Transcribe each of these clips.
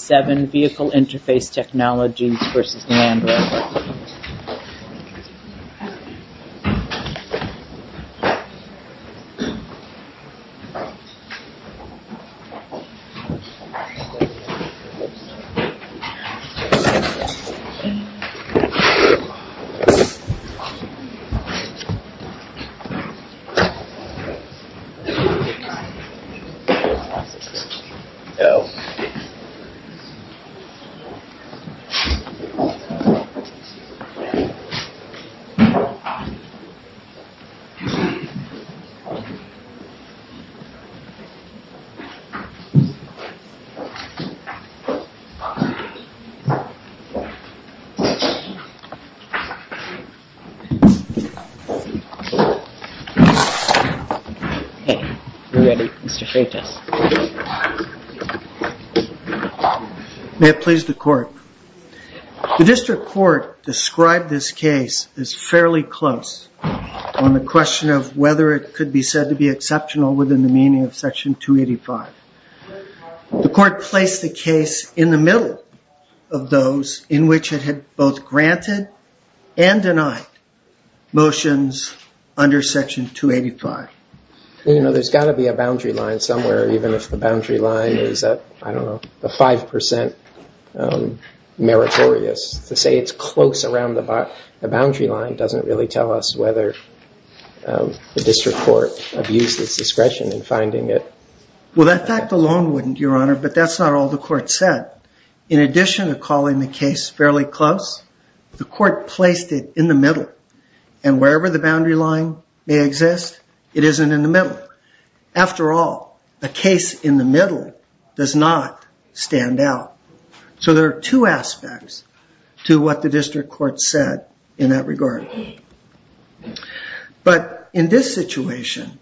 7 Vehicle Interface Technologies v. Land Rover 7 Vehicle Interface Technologies v. Jaguar Land Rover May it please the court. The district court described this case as fairly close on the question of whether it could be said to be exceptional within the meaning of Section 285. The court placed the case in the middle of those in which it had both granted and denied motions under Section 285. You know there's got to be a boundary line somewhere, even if the boundary line is at, I don't know, the 5% meritorious. To say it's close around the boundary line doesn't really tell us whether the district court abused its discretion in finding it. Well that fact alone wouldn't, Your Honor, but that's not all the court said. In addition to calling the case fairly close, the court placed it in the middle. And wherever the boundary line may exist, it isn't in the middle. A case in the middle does not stand out. So there are two aspects to what the district court said in that regard. But in this situation,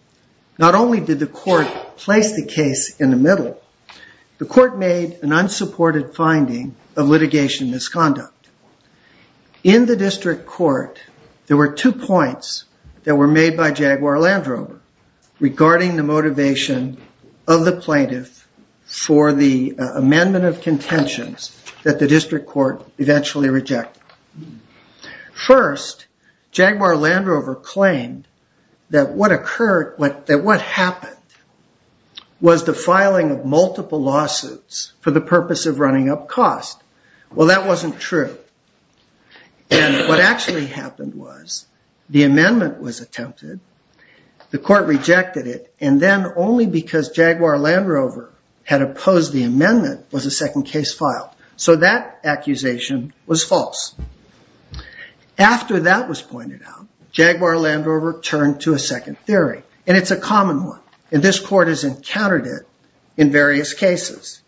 not only did the court place the case in the middle, the court made an unsupported finding of litigation misconduct. In the district court, there were two points that were made by Jaguar Land Rover regarding the motivation of the plaintiff for the amendment of contentions that the district court eventually rejected. First, Jaguar Land Rover claimed that what happened was the filing of multiple lawsuits for the purpose of running up cost. Well that wasn't true. And what actually happened was the amendment was attempted, the court rejected it, and then only because Jaguar Land Rover had opposed the amendment was a second case filed. So that accusation was false. After that was pointed out, Jaguar Land Rover turned to a second theory. And it's a common one. And this court has encountered it in various cases.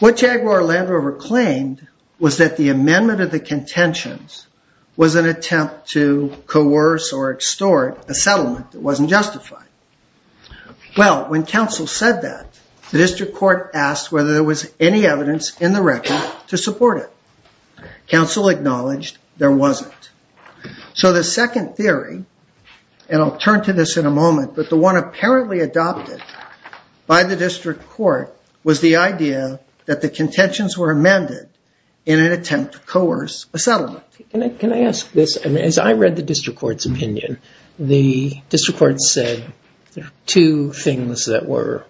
What Jaguar Land Rover claimed was that the amendment of the contentions was an attempt to coerce or extort a settlement that wasn't justified. Well, when counsel said that, the district court asked whether there was any evidence in the record to support it. Counsel acknowledged there wasn't. So the second theory, and I'll turn to this in a moment, but the one apparently adopted by the district court was the idea that the contentions were amended in an attempt to coerce a settlement. Can I ask this? As I read the district court's opinion, the district court said two things that were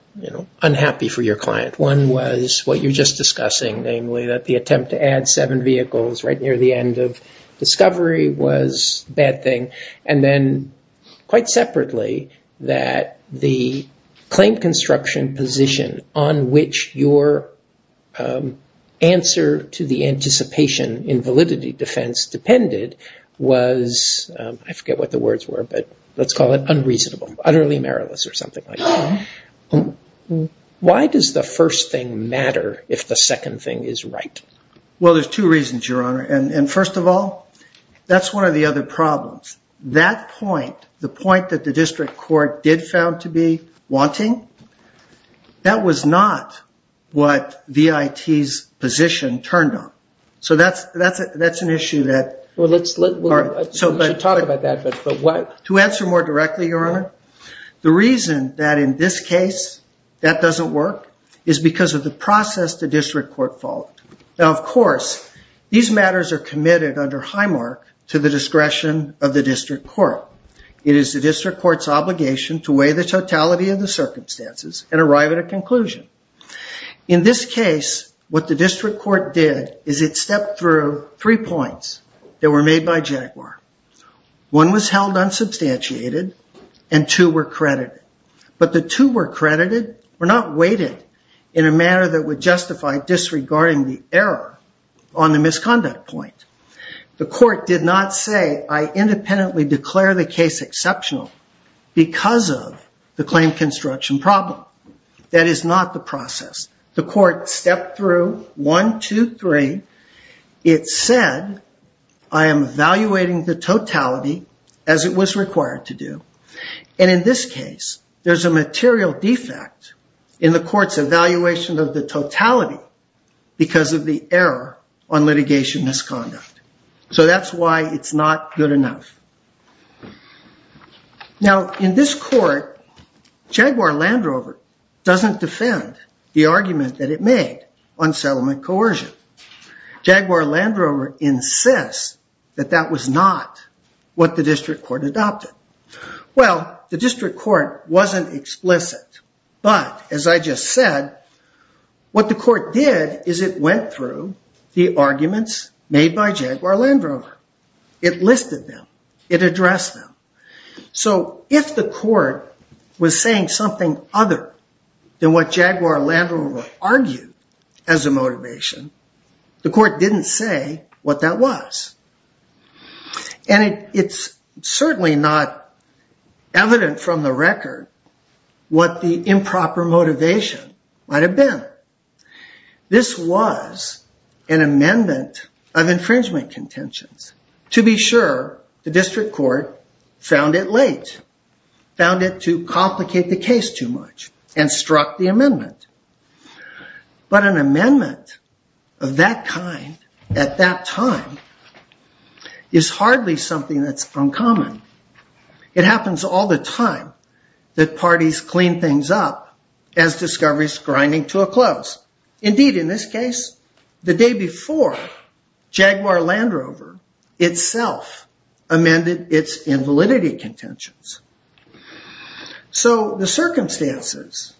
unhappy for your client. One was what you're just discussing, namely that the attempt to add seven vehicles right near the end of discovery was a bad thing. And then quite separately, that the claim construction position on which your claim construction answer to the anticipation in validity defense depended was, I forget what the words were, but let's call it unreasonable, utterly meriless or something like that. Why does the first thing matter if the second thing is right? Well, there's two reasons, Your Honor. And first of all, that's one of the other problems. That point, the point that the district court did found to be wanting, that was not what the VIT's position turned on. So that's an issue that... Well, let's talk about that, but why... To answer more directly, Your Honor, the reason that in this case that doesn't work is because of the process the district court followed. Now, of course, these matters are committed under high mark to the discretion of the district court. It is the district court's obligation to weigh the totality of the circumstances and arrive at a conclusion. In this case, what the district court did is it stepped through three points that were made by Jaguar. One was held unsubstantiated and two were credited. But the two were credited, were not weighted in a manner that would justify disregarding the error on the misconduct point. The court did not say, I independently declare the case exceptional because of the claim construction problem. That is not the process. The court stepped through one, two, three. It said, I am evaluating the totality as it was required to do. And in this case, there's a material defect in the court's evaluation of the totality because of the error on litigation misconduct. So that's why it's not good enough. Now, in this court, Jaguar-Landrover doesn't defend the argument that it made on settlement coercion. Jaguar-Landrover insists that that was not what the district court adopted. Well, the district court wasn't explicit. But as I just said, what the court did is it went through the arguments made by Jaguar-Landrover. It listed them. It addressed them. So if the court was saying something other than what Jaguar-Landrover argued as a motivation, the court didn't say what that was. And it's certainly not evident from the record what the improper motivation might have been. This was an amendment of infringement contentions. To be sure, the district court found it late, found it to complicate the case too much, and struck the amendment. But an amendment of that kind at that time is hardly something that's uncommon. It happens all the time that parties clean things up as discoveries grinding to a close. Indeed, in this case, the day before, Jaguar-Landrover itself amended its invalidity contentions. So the circumstances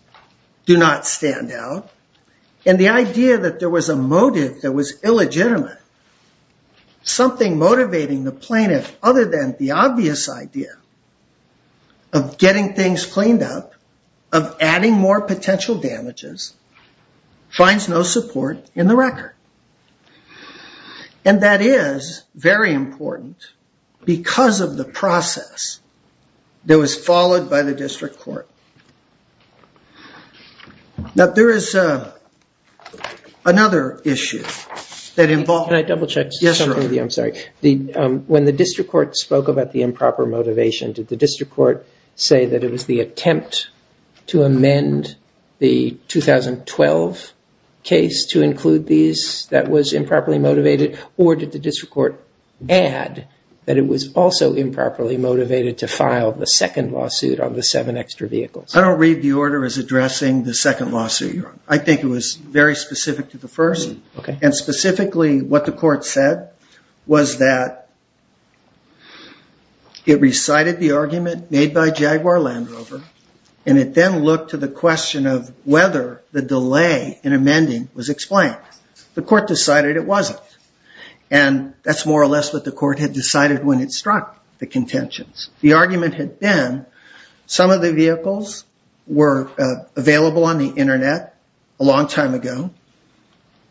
do not stand out. And the idea that there was a motive that was illegitimate, something motivating the plaintiff other than the obvious idea of getting things cleaned up, of adding more potential damages, finds no support in the record. And that is very important because of the process that was followed by the district court. Now, there is another issue that involved Can I double check something with you? I'm sorry. When the district court spoke about the improper motivation, did the district court say that it was the attempt to amend the 2012 case to include these that was improperly motivated? Or did the district court add that it was also improperly motivated to file the second lawsuit on the seven extra vehicles? I don't read the order as addressing the second lawsuit. I think it was very specific to the first. And specifically, what the court said was that it recited the argument made by Jaguar-Landrover, and it then looked to the question of whether the delay in amending was explained. The court decided it wasn't. And that's more or less what the court had decided when it struck the contentions. The argument had been some of the vehicles were available on the internet a long time ago.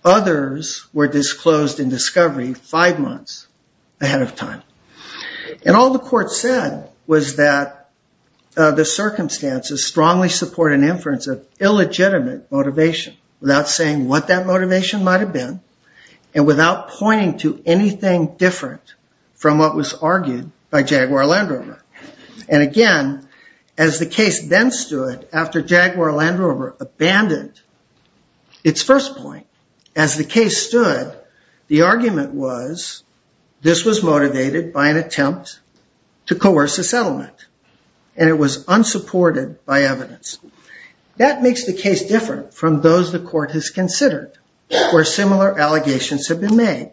Others were disclosed in discovery five months ahead of time. And all the court said was that the circumstances strongly support an inference of illegitimate motivation without saying what that motivation might have been and without pointing to anything different from what was argued by Jaguar-Landrover. And again, as the case then stood after Jaguar-Landrover abandoned its first point, as the case stood, the argument was this was motivated by an attempt to coerce a settlement. And it was unsupported by evidence. That makes the case different from those the court has considered where similar allegations have been made.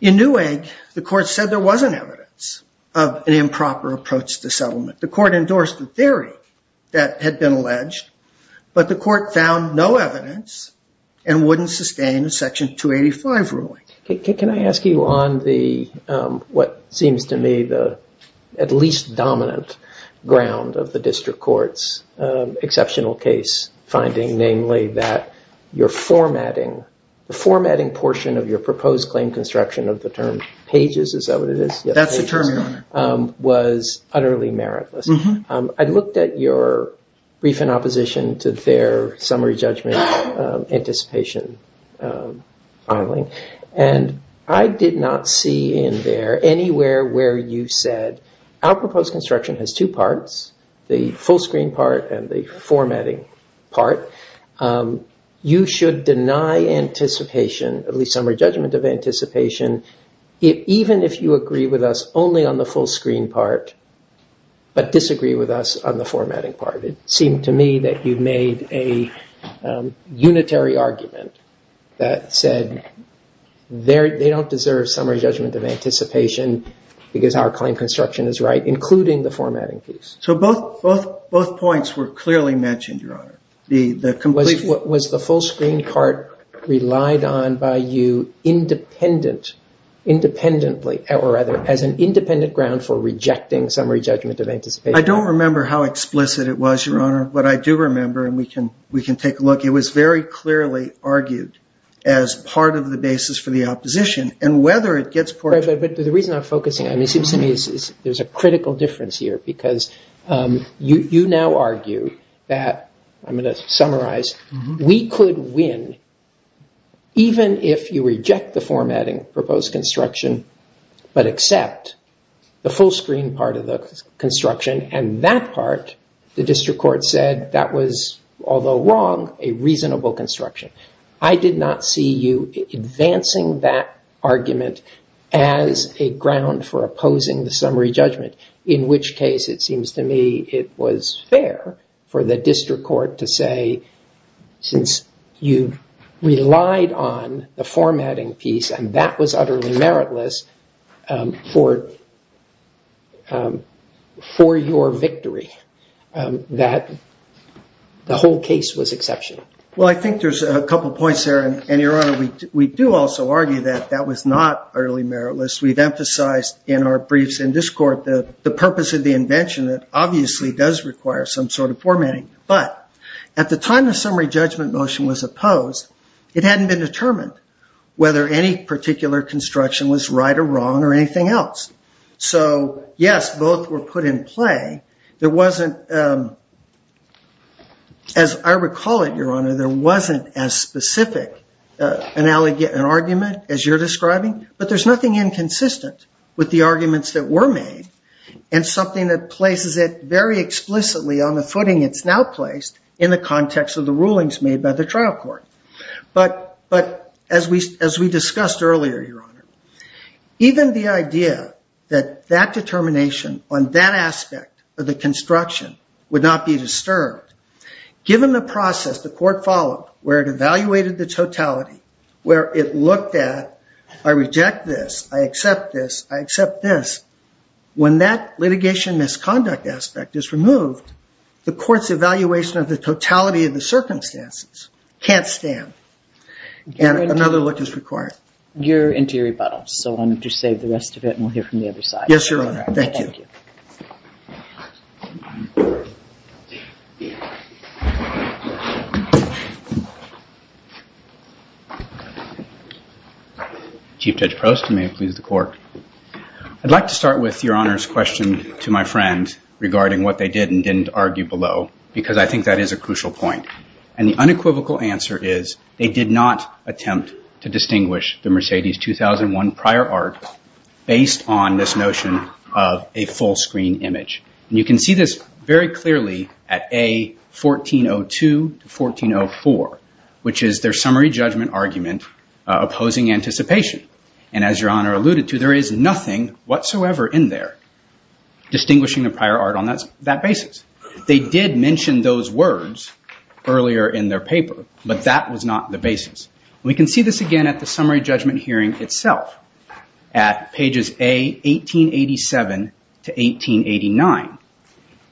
In Newegg, the court said there wasn't evidence of an improper approach to settlement. The court endorsed the theory that had been alleged, but the court found no evidence and wouldn't sustain a Section 285 ruling. Can I ask you on what seems to me the at least dominant ground of the district court's exceptional case finding, namely that your formatting, the formatting portion of your proposed claim construction of the term pages, is that what it is? That's the term, Your Honor. Was utterly meritless. I looked at your brief in opposition to their summary judgment anticipation filing, and I did not see in there anywhere where you said our proposed construction has two parts, the full screen part and the formatting part. You should deny anticipation, at least summary judgment of anticipation, even if you agree with us only on the full screen part, but disagree with us on the formatting part. It seemed to me that you made a unitary argument that said they don't deserve summary judgment of anticipation because our claim construction is right, including the formatting piece. So both points were clearly mentioned, Your Honor. Was the full screen part relied on by you independently, or rather as an independent ground for rejecting summary judgment of anticipation? I don't remember how explicit it was, Your Honor, but I do remember, and we can take a look. It was very clearly argued as part of the basis for the opposition, and whether it gets portrayed. The reason I'm focusing on it, it seems to me there's a critical difference here, because you now argue that, I'm going to summarize, we could win even if you reject the formatting proposed construction, but accept the full screen part of the construction, and that part the district court said that was, although wrong, a reasonable construction. I did not see you advancing that argument as a ground for opposing the summary judgment, in which case it seems to me it was fair for the district court to say, since you relied on the formatting piece, and that was utterly meritless for your victory, that the whole case was exceptional. I think there's a couple of points there, and Your Honor, we do also argue that that was not utterly meritless. We've emphasized in our briefs in this court the purpose of the invention that obviously does require some sort of formatting, but at the time the summary judgment motion was opposed, it hadn't been determined whether any particular construction was right or wrong or anything else, so yes, both were put in play. There wasn't, as I said, Your Honor, there wasn't as specific an argument as you're describing, but there's nothing inconsistent with the arguments that were made, and something that places it very explicitly on the footing it's now placed in the context of the rulings made by the trial court, but as we discussed earlier, Your Honor, even the idea that that determination on that aspect of the construction would not be disturbed, given the process the court followed where it evaluated the totality, where it looked at, I reject this, I accept this, I accept this, when that litigation misconduct aspect is removed, the court's evaluation of the totality of the circumstances can't stand, and another look is required. You're into your rebuttal, so why don't you save the rest of it, and we'll hear from the other side. Yes, Your Honor, thank you. Chief Judge Prost, and may it please the court. I'd like to start with Your Honor's question to my friend regarding what they did and didn't argue below, because I think that is a crucial point, and the unequivocal answer is they did not attempt to distinguish the Mercedes 2001 prior art based on this notion of a full screen image, and you can see this very clearly at A1402 to 1404, which is their summary judgment argument opposing anticipation, and as Your Honor alluded to, there is nothing whatsoever in there distinguishing the prior art on that basis. They did mention those words earlier in their paper, but that was not the basis, and we can see this again at the summary judgment hearing itself at pages A1887 to 1889,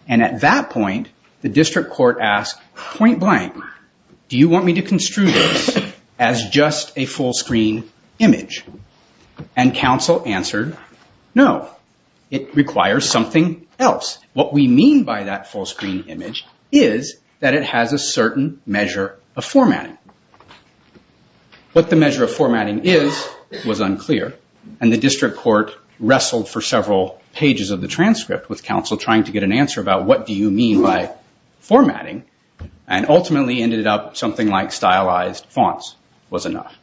and at that point, the district court asked point blank, do you want me to construe this as just a full screen image, and counsel answered, no, it requires something else. What we mean by that full screen image is that it has a certain measure of formatting. What the measure of formatting is was unclear, and the district court wrestled for several pages of the transcript with counsel trying to get an answer about what do you mean by formatting, and ultimately ended up something like stylized fonts was enough,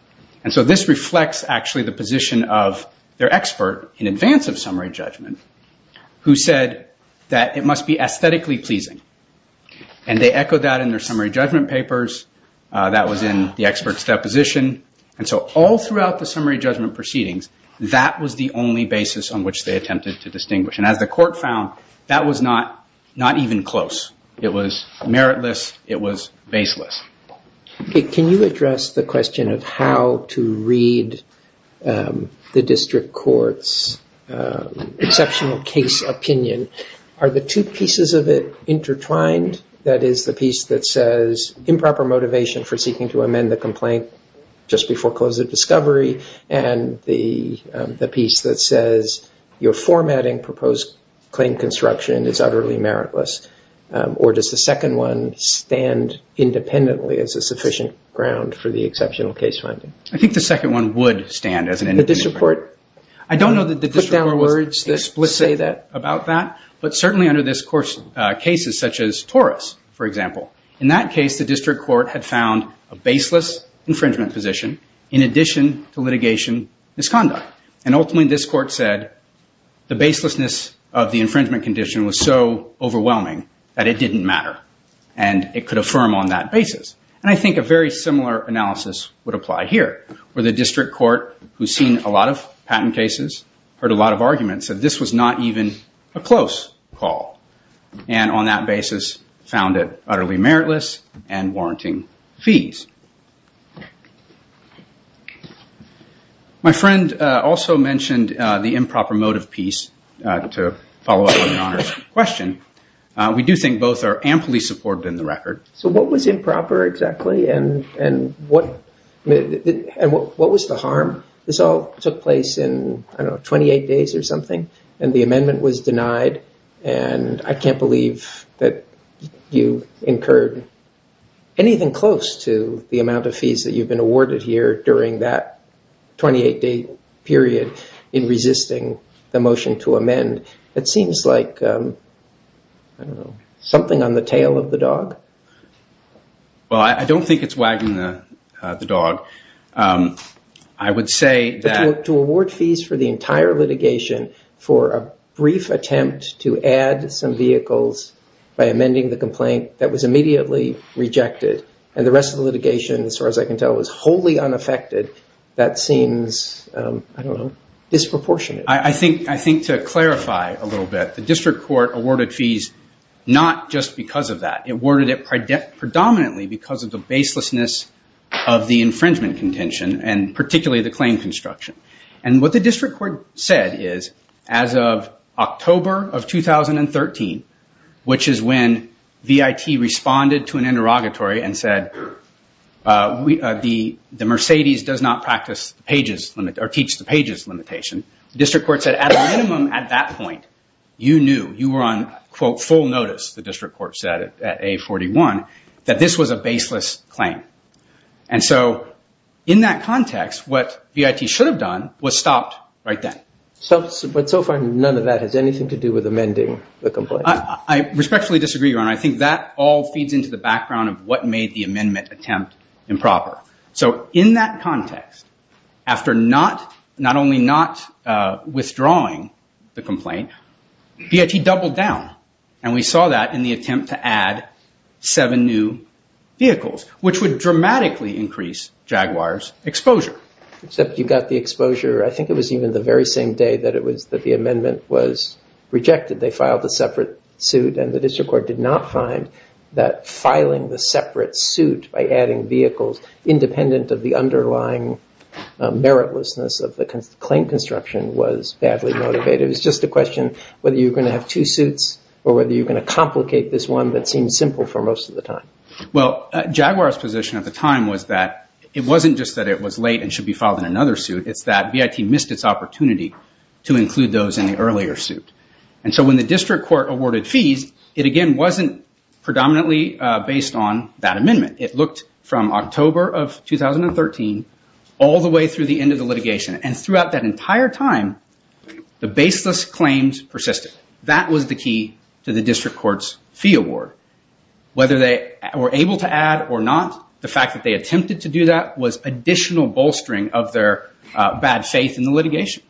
and so this reflects actually the position of their expert in advance of summary judgment who said that it must be aesthetically pleasing, and they echoed that in their summary judgment papers. That was in the expert's deposition, and so all throughout the summary judgment proceedings, that was the only basis on which they attempted to distinguish, and as the court found, that was not even close. It was meritless. It was baseless. Can you address the question of how to read the district court's exceptional case opinion? Are the two pieces of it intertwined? That is, the piece that says improper motivation for seeking to amend the complaint just before close of discovery, and the piece that says you're formatting proposed claim construction is utterly meritless, or does the second one stand independently as a sufficient ground for the exceptional case finding? I think the second one would stand as an independent. The district court? I don't know if there are words that say that about that, but certainly under this court's cases, such as Torres, for example, in that case, the district court had found a baseless infringement position in addition to litigation misconduct, and ultimately, this court said the baselessness of the infringement condition was so overwhelming that it didn't matter, and it could affirm on that basis, and I think a very similar analysis would argue that this was not even a close call, and on that basis, found it utterly meritless and warranting fees. My friend also mentioned the improper motive piece to follow up on the question. We do think both are amply supported in the record. So what was improper exactly, and what was the harm? This all took place in 28 days or something, and the amendment was denied, and I can't believe that you incurred anything close to the amount of fees that you've been awarded here during that 28-day period in resisting the motion to amend. It seems like, I don't know, something on the tail of the dog? Well, I don't think it's wagging the dog. I would say that- For a brief attempt to add some vehicles by amending the complaint that was immediately rejected, and the rest of the litigation, as far as I can tell, was wholly unaffected. That seems, I don't know, disproportionate. I think to clarify a little bit, the district court awarded fees not just because of that. It awarded it predominantly because of the baselessness of the infringement contention, and particularly the claim construction. What the district court said is, as of October of 2013, which is when VIT responded to an interrogatory and said, the Mercedes does not practice the pages limit, or teach the pages limitation, the district court said, at a minimum at that point, you knew, you were on, quote, full notice, the district court said at A41, that this was a baseless claim. And so, in that context, what VIT should have done was stopped right then. But so far, none of that has anything to do with amending the complaint? I respectfully disagree, Your Honor. I think that all feeds into the background of what made the amendment attempt improper. So in that context, after not only not withdrawing the complaint, VIT doubled down. And we saw that in the attempt to add seven new vehicles, which would dramatically increase Jaguar's exposure. Except you got the exposure, I think it was even the very same day that the amendment was rejected. They filed a separate suit, and the district court did not find that filing the separate suit by adding vehicles independent of the underlying meritlessness of the claim construction was badly motivated. It was just a question whether you were going to have two suits, or whether you were going to complicate this one that seemed simple for most of the time. Well, Jaguar's position at the time was that it wasn't just that it was late and should be filed in another suit. It's that VIT missed its opportunity to include those in the earlier suit. And so when the district court awarded fees, it again wasn't predominantly based on that amendment. And throughout that entire time, the baseless claims persisted. That was the key to the district court's fee award. Whether they were able to add or not, the fact that they attempted to do that was additional bolstering of their bad faith in the litigation.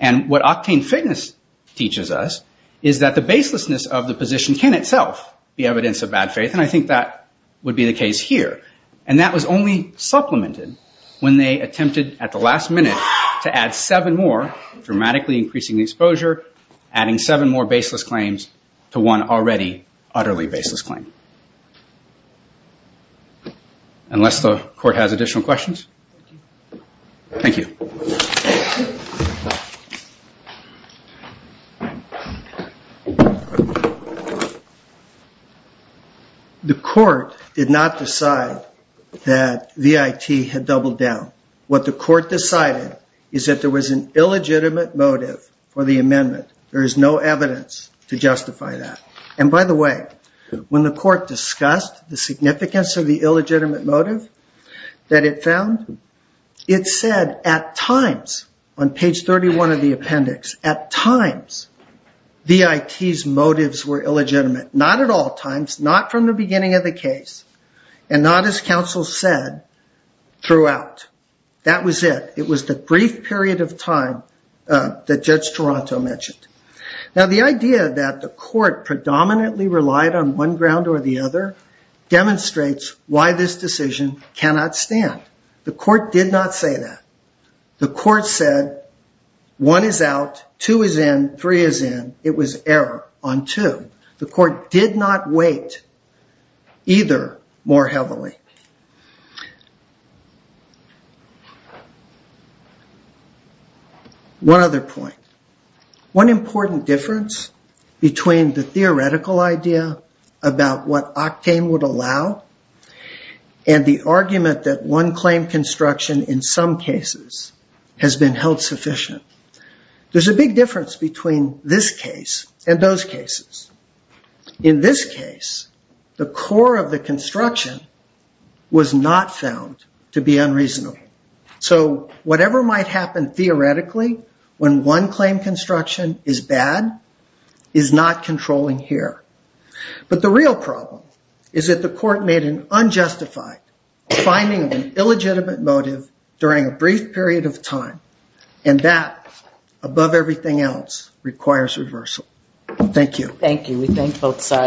And what octane fitness teaches us is that the baselessness of the position can itself be evidence of bad faith. And I think that would be the case here. And that was only supplemented when they attempted at the last minute to add seven more, dramatically increasing the exposure, adding seven more baseless claims to one already utterly baseless claim. Unless the court has additional questions? Thank you. The court did not decide that VIT had doubled down. What the court decided is that there was an illegitimate motive for the amendment. There is no evidence to justify that. And by the way, when the court discussed the significance of the illegitimate motive that it found, it said at times, on page 31 of the appendix, at times, VIT's motives were illegitimate. Not at all times, not from the beginning of the case, and not, as counsel said, throughout. That was it. It was the brief period of time that Judge Toronto mentioned. Now, the idea that the court predominantly relied on one ground or the other demonstrates why this decision cannot stand. The court did not say that. The court said one is out, two is in, three is in. It was error on two. The court did not weight either more heavily. One other point. One important difference between the theoretical idea about what octane would allow and the argument that one claim construction, in some cases, has been held sufficient. There's a big difference between this case and those cases. In this case, the core of the construction was not found to be unreasonable. So whatever might happen theoretically when one claim construction is bad is not controlling here. But the real problem is that the court made an unjustified finding of an illegitimate motive during a brief period of time, and that, above everything else, requires reversal. Thank you. Thank you.